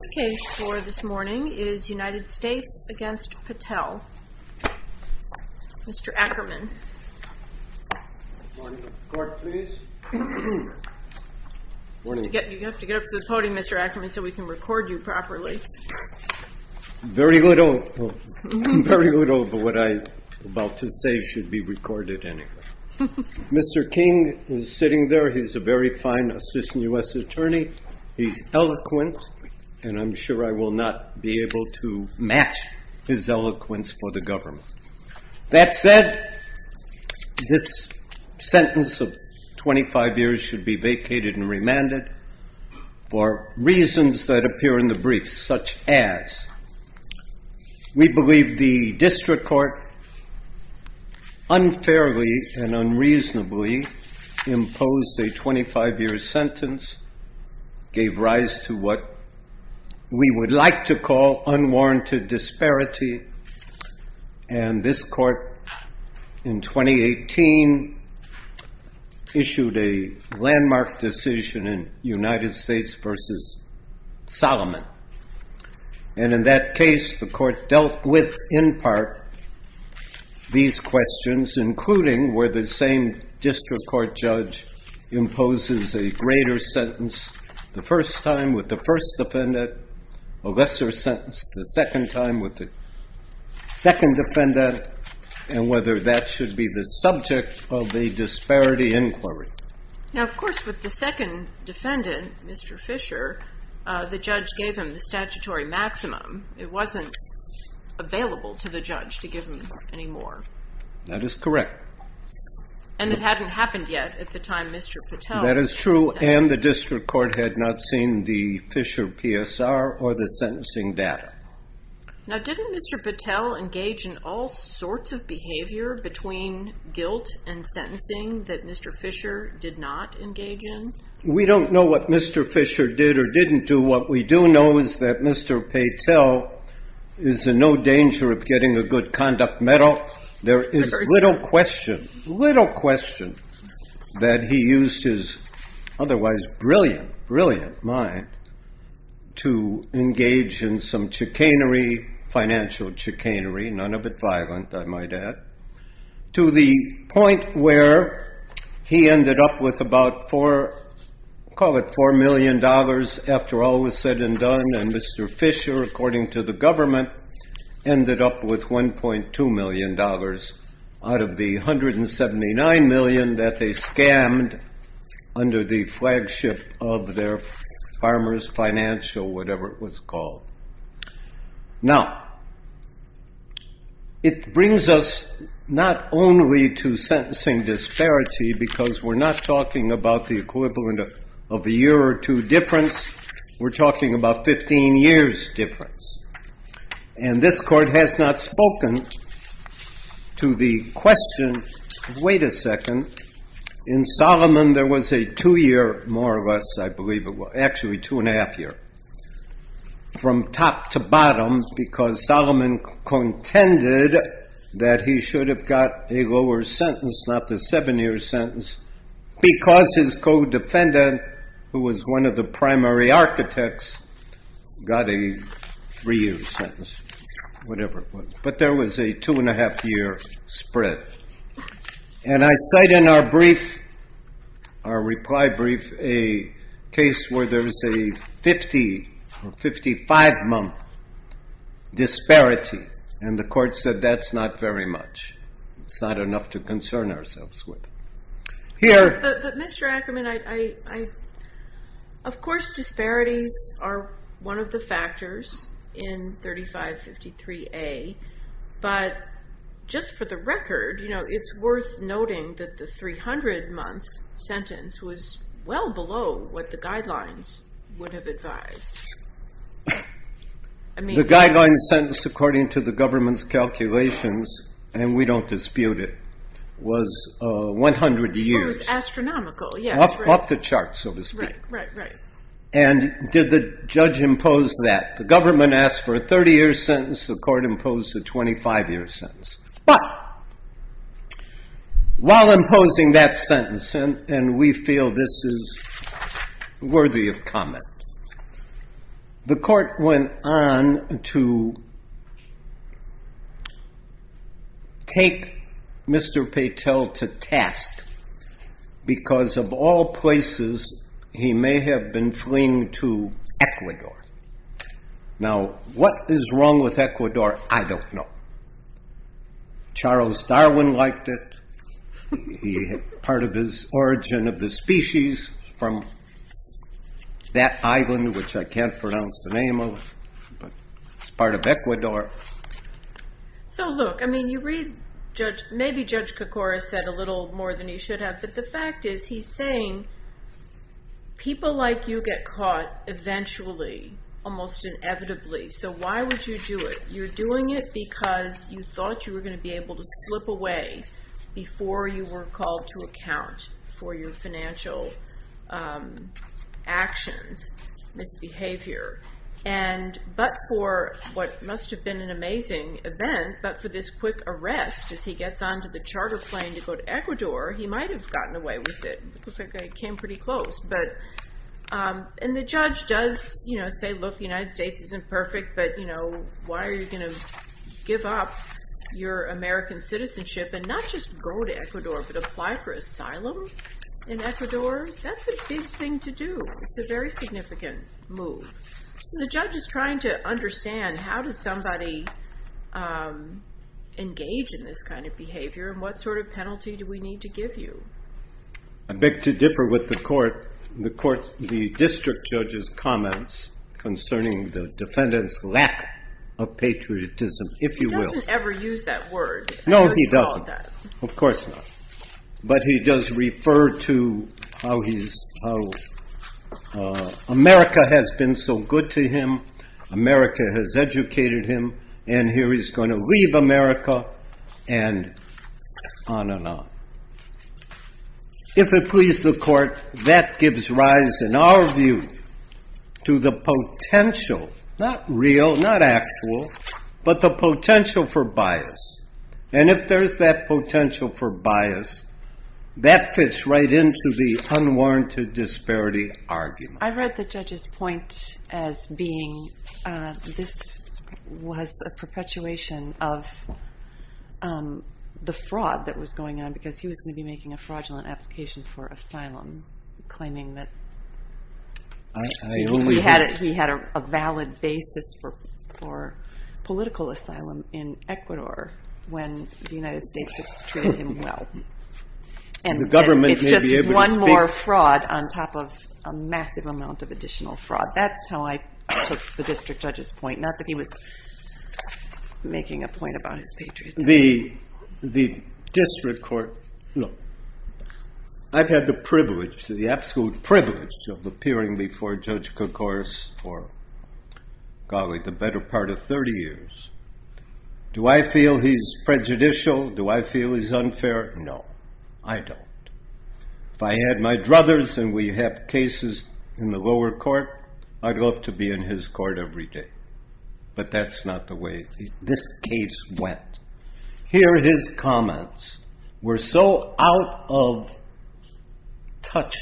The case for this morning is United States v. Patel. Mr. Ackerman. Good morning. Court, please. You have to get up to the podium, Mr. Ackerman, so we can record you properly. Very little of what I'm about to say should be recorded anyway. Mr. King is sitting there. He's a very fine assistant U.S. attorney. He's eloquent, and I'm sure I will not be able to match his eloquence for the government. That said, this sentence of 25 years should be vacated and remanded for reasons that appear in the brief, such as We believe the district court unfairly and unreasonably imposed a 25-year sentence, gave rise to what we would like to call unwarranted disparity, and this court in 2018 issued a landmark decision in United States v. Solomon. And in that case, the court dealt with, in part, these questions, including whether the same district court judge imposes a greater sentence the first time with the first defendant, a lesser sentence the second time with the second defendant, and whether that should be the subject of a disparity inquiry. Now, of course, with the second defendant, Mr. Fisher, the judge gave him the statutory maximum. It wasn't available to the judge to give him any more. That is correct. And it hadn't happened yet at the time Mr. Patel was sentenced. That is true, and the district court had not seen the Fisher PSR or the sentencing data. Now, didn't Mr. Patel engage in all sorts of behavior between guilt and sentencing that Mr. Fisher did not engage in? We don't know what Mr. Fisher did or didn't do. What we do know is that Mr. Patel is in no danger of getting a good conduct medal. There is little question, little question that he used his otherwise brilliant, brilliant mind to engage in some financial chicanery, none of it violent, I might add, to the point where he ended up with about $4 million after all was said and done. And Mr. Fisher, according to the government, ended up with $1.2 million out of the $179 million that they scammed under the flagship of their farmer's financial, whatever it was called. Now, it brings us not only to sentencing disparity because we're not talking about the equivalent of a year or two difference. We're talking about 15 years difference. And this court has not spoken to the question, wait a second, in Solomon there was a two-year, more or less, I believe it was, actually two and a half year, from top to bottom because Solomon contended that he should have got a lower sentence, not the seven-year sentence, because his co-defendant, who was one of the primary architects, got a three-year sentence, whatever it was. But there was a two and a half year spread. And I cite in our brief, our reply brief, a case where there was a 50 or 55-month disparity. And the court said that's not very much. It's not enough to concern ourselves with. But, Mr. Ackerman, of course disparities are one of the factors in 3553A. But just for the record, it's worth noting that the 300-month sentence was well below what the guidelines would have advised. The guideline sentence, according to the government's calculations, and we don't dispute it, was 100 years. It was astronomical, yes. Up the chart, so to speak. Right, right, right. And did the judge impose that? The government asked for a 30-year sentence. The court imposed a 25-year sentence. But while imposing that sentence, and we feel this is worthy of comment, the court went on to take Mr. Patel to task. Because of all places, he may have been fleeing to Ecuador. Now, what is wrong with Ecuador? I don't know. Charles Darwin liked it. He had part of his origin of the species from that island, which I can't pronounce the name of, but it's part of Ecuador. So, look. I mean, you read Judge – maybe Judge Kokora said a little more than he should have. But the fact is he's saying people like you get caught eventually, almost inevitably. So why would you do it? You're doing it because you thought you were going to be able to slip away before you were called to account for your financial actions, misbehavior. But for what must have been an amazing event, but for this quick arrest as he gets onto the charter plane to go to Ecuador, he might have gotten away with it. It looks like they came pretty close. And the judge does say, look, the United States isn't perfect, but why are you going to give up your American citizenship and not just go to Ecuador, but apply for asylum in Ecuador? That's a big thing to do. It's a very significant move. So the judge is trying to understand how does somebody engage in this kind of behavior and what sort of penalty do we need to give you? I beg to differ with the court. The district judge's comments concerning the defendant's lack of patriotism, if you will. He doesn't ever use that word. No, he doesn't. Of course not. But he does refer to how America has been so good to him. America has educated him. And here he's going to leave America and on and on. If it pleases the court, that gives rise, in our view, to the potential, not real, not actual, but the potential for bias. And if there's that potential for bias, that fits right into the unwarranted disparity argument. I read the judge's point as being this was a perpetuation of the fraud that was going on because he was going to be making a fraudulent application for asylum, claiming that he had a valid basis for political asylum in Ecuador. When the United States has treated him well. And it's just one more fraud on top of a massive amount of additional fraud. That's how I took the district judge's point. Not that he was making a point about his patriotism. The district court. Look, I've had the privilege, the absolute privilege, of appearing before Judge Kokoris for, golly, the better part of 30 years. Do I feel he's prejudicial? Do I feel he's unfair? No, I don't. If I had my druthers and we have cases in the lower court, I'd love to be in his court every day. But that's not the way this case went. Here, his comments were so out of touch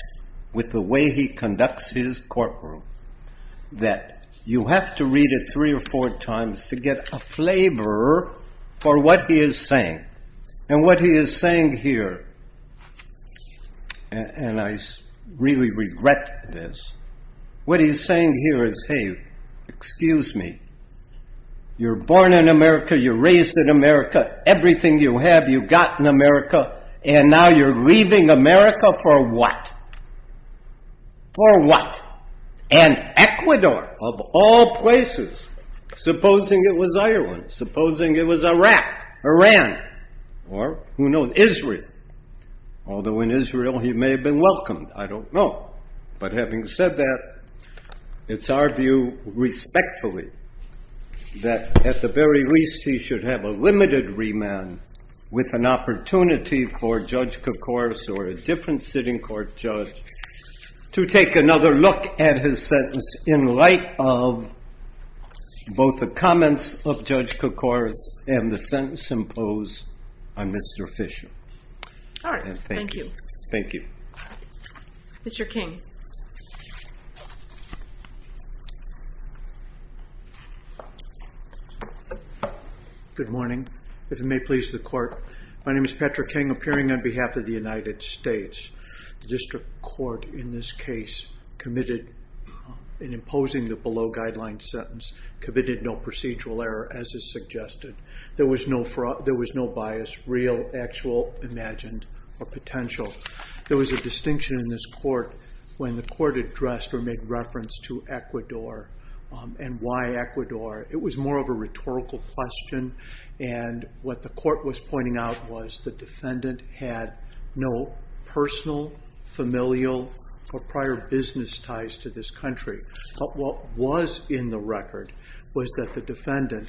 with the way he conducts his courtroom that you have to read it three or four times to get a flavor for what he is saying. And what he is saying here, and I really regret this. What he is saying here is, hey, excuse me. You're born in America, you're raised in America, everything you have you got in America, and now you're leaving America for what? For what? And Ecuador, of all places, supposing it was Ireland, supposing it was Iraq, Iran, or who knows, Israel. Although in Israel he may have been welcomed. I don't know. But having said that, it's our view, respectfully, that at the very least he should have a limited remand with an opportunity for Judge Kokoris or a different sitting court judge to take another look at his sentence in light of both the comments of Judge Kokoris and the sentence imposed on Mr. Fisher. All right. Thank you. Thank you. Mr. King. Good morning. If it may please the court, my name is Patrick King, appearing on behalf of the United States. The district court in this case committed, in imposing the below guideline sentence, committed no procedural error as is suggested. There was no bias, real, actual, imagined, or potential. There was a distinction in this court when the court addressed or made reference to Ecuador and why Ecuador. It was more of a rhetorical question. And what the court was pointing out was the defendant had no personal, familial, or prior business ties to this country. But what was in the record was that the defendant,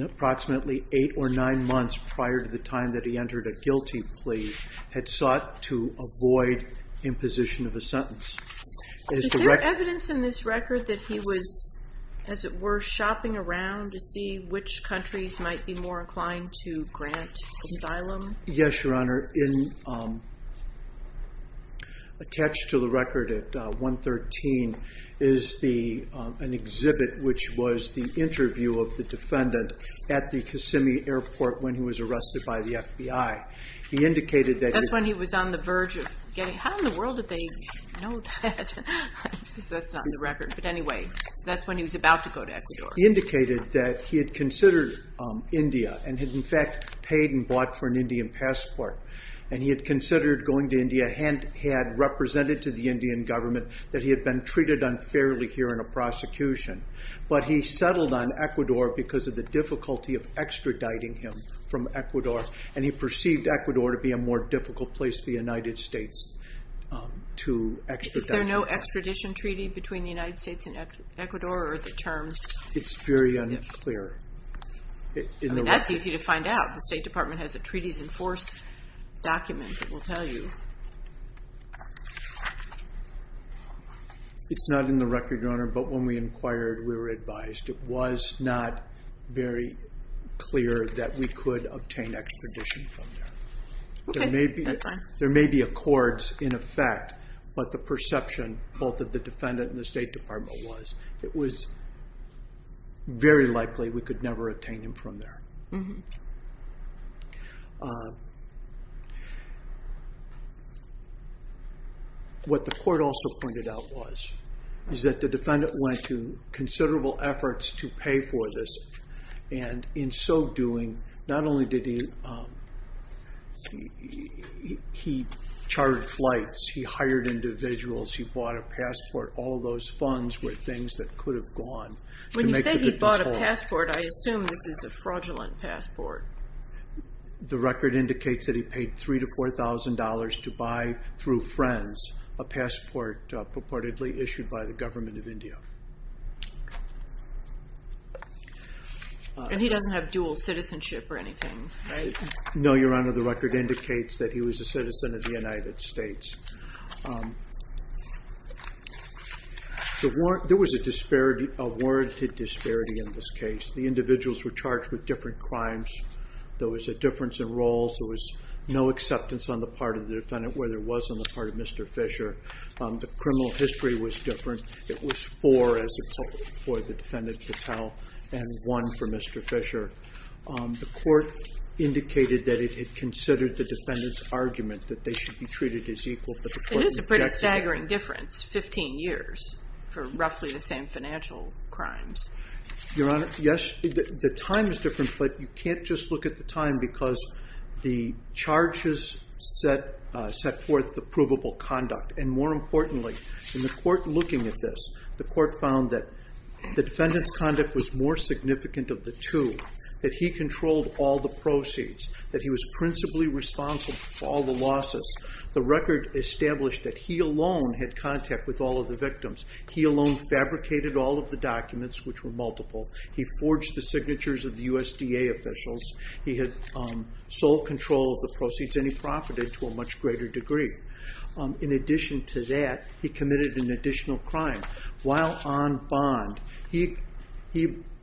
approximately eight or nine months prior to the time that he entered a guilty plea, had sought to avoid imposition of a sentence. Is there evidence in this record that he was, as it were, shopping around to see which countries might be more inclined to grant asylum? Yes, Your Honor. Attached to the record at 113 is an exhibit which was the interview of the defendant at the Kissimmee Airport when he was arrested by the FBI. He indicated that he... That's when he was on the verge of getting... How in the world did they know that? That's not in the record. He indicated that he had considered India and had, in fact, paid and bought for an Indian passport. And he had considered going to India and had represented to the Indian government that he had been treated unfairly here in a prosecution. But he settled on Ecuador because of the difficulty of extraditing him from Ecuador, and he perceived Ecuador to be a more difficult place for the United States to extradite him. Is there no extradition treaty between the United States and Ecuador, or are there terms? It's very unclear. I mean, that's easy to find out. The State Department has a treaties-enforced document that will tell you. It's not in the record, Your Honor, but when we inquired, we were advised. It was not very clear that we could obtain extradition from there. Okay, that's fine. There may be accords in effect, but the perception, both of the defendant and the State Department, was it was very likely we could never obtain him from there. What the court also pointed out was is that the defendant went to considerable efforts to pay for this. In so doing, not only did he charter flights, he hired individuals, he bought a passport. All those funds were things that could have gone. When you say he bought a passport, I assume this is a fraudulent passport. The record indicates that he paid $3,000 to $4,000 to buy, through friends, a passport purportedly issued by the government of India. And he doesn't have dual citizenship or anything, right? No, Your Honor, the record indicates that he was a citizen of the United States. There was a warranted disparity in this case. The individuals were charged with different crimes. There was a difference in roles. There was no acceptance on the part of the defendant, where there was on the part of Mr. Fisher. The criminal history was different. It was four for the defendant, Patel, and one for Mr. Fisher. The court indicated that it had considered the defendant's argument that they should be treated as equal. It is a pretty staggering difference, 15 years for roughly the same financial crimes. Your Honor, yes, the time is different, but you can't just look at the time because the charges set forth the provable conduct. And more importantly, in the court looking at this, the court found that the defendant's conduct was more significant of the two, that he controlled all the proceeds, that he was principally responsible for all the losses. The record established that he alone had contact with all of the victims. He alone fabricated all of the documents, which were multiple. He forged the signatures of the USDA officials. He had sole control of the proceeds, and he profited to a much greater degree. In addition to that, he committed an additional crime. While on bond, he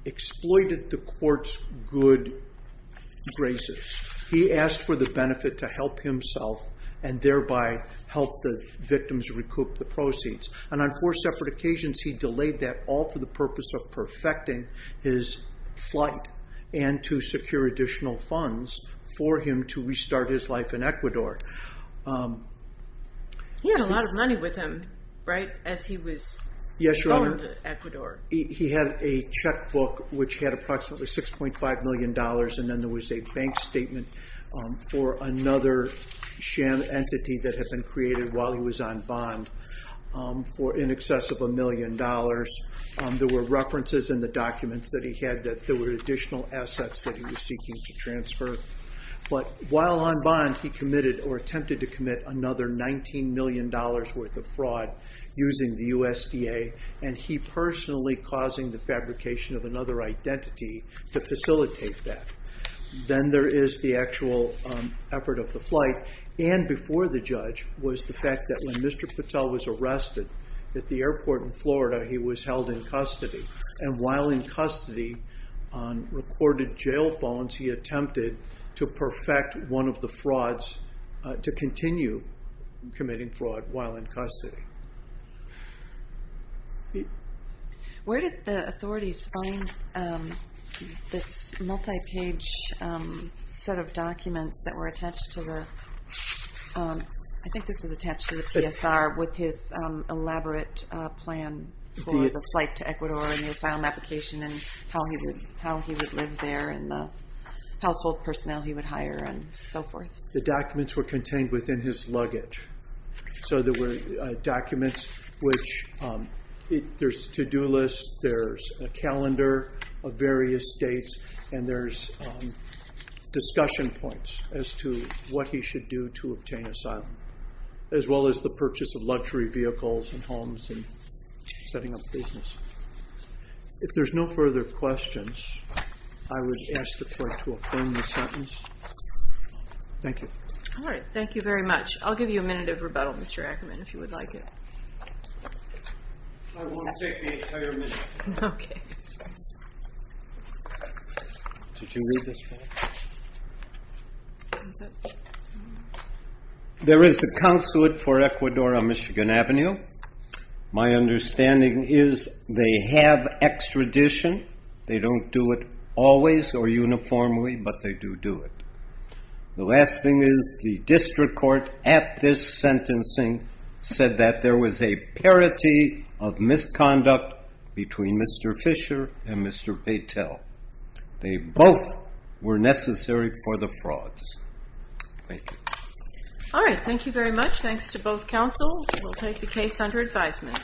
exploited the court's good graces. He asked for the benefit to help himself and thereby help the victims recoup the proceeds. And on four separate occasions, he delayed that all for the purpose of perfecting his flight and to secure additional funds for him to restart his life in Ecuador. He had a lot of money with him, right, as he was going to Ecuador. Yes, Your Honor. He had a checkbook, which had approximately $6.5 million, and then there was a bank statement for another sham entity that had been created while he was on bond for in excess of $1 million. There were references in the documents that he had that there were additional assets that he was seeking to transfer. But while on bond, he committed or attempted to commit another $19 million worth of fraud using the USDA, and he personally causing the fabrication of another identity to facilitate that. Then there is the actual effort of the flight, and before the judge, was the fact that when Mr. Patel was arrested at the airport in Florida, he was held in custody. And while in custody, on recorded jail phones, he attempted to perfect one of the frauds to continue committing fraud while in custody. Where did the authorities find this multi-page set of documents that were attached to the, I think this was attached to the PSR with his elaborate plan for the flight to Ecuador and the asylum application and how he would live there and the household personnel he would hire and so forth. The documents were contained within his luggage. So there were documents which, there's a to-do list, there's a calendar of various dates, and there's discussion points as to what he should do to obtain asylum. As well as the purchase of luxury vehicles and homes and setting up business. If there's no further questions, I would ask the court to affirm the sentence. Thank you. All right, thank you very much. I'll give you a minute of rebuttal, Mr. Ackerman, if you would like it. I won't take the entire minute. Okay. Did you read this one? There is a consulate for Ecuador on Michigan Avenue. My understanding is they have extradition. They don't do it always or uniformly, but they do do it. The last thing is the district court at this sentencing said that there was a parity of misconduct between Mr. Fisher and Mr. Patel. They both were necessary for the frauds. Thank you. All right, thank you very much. Thanks to both counsel. We'll take the case under advisement.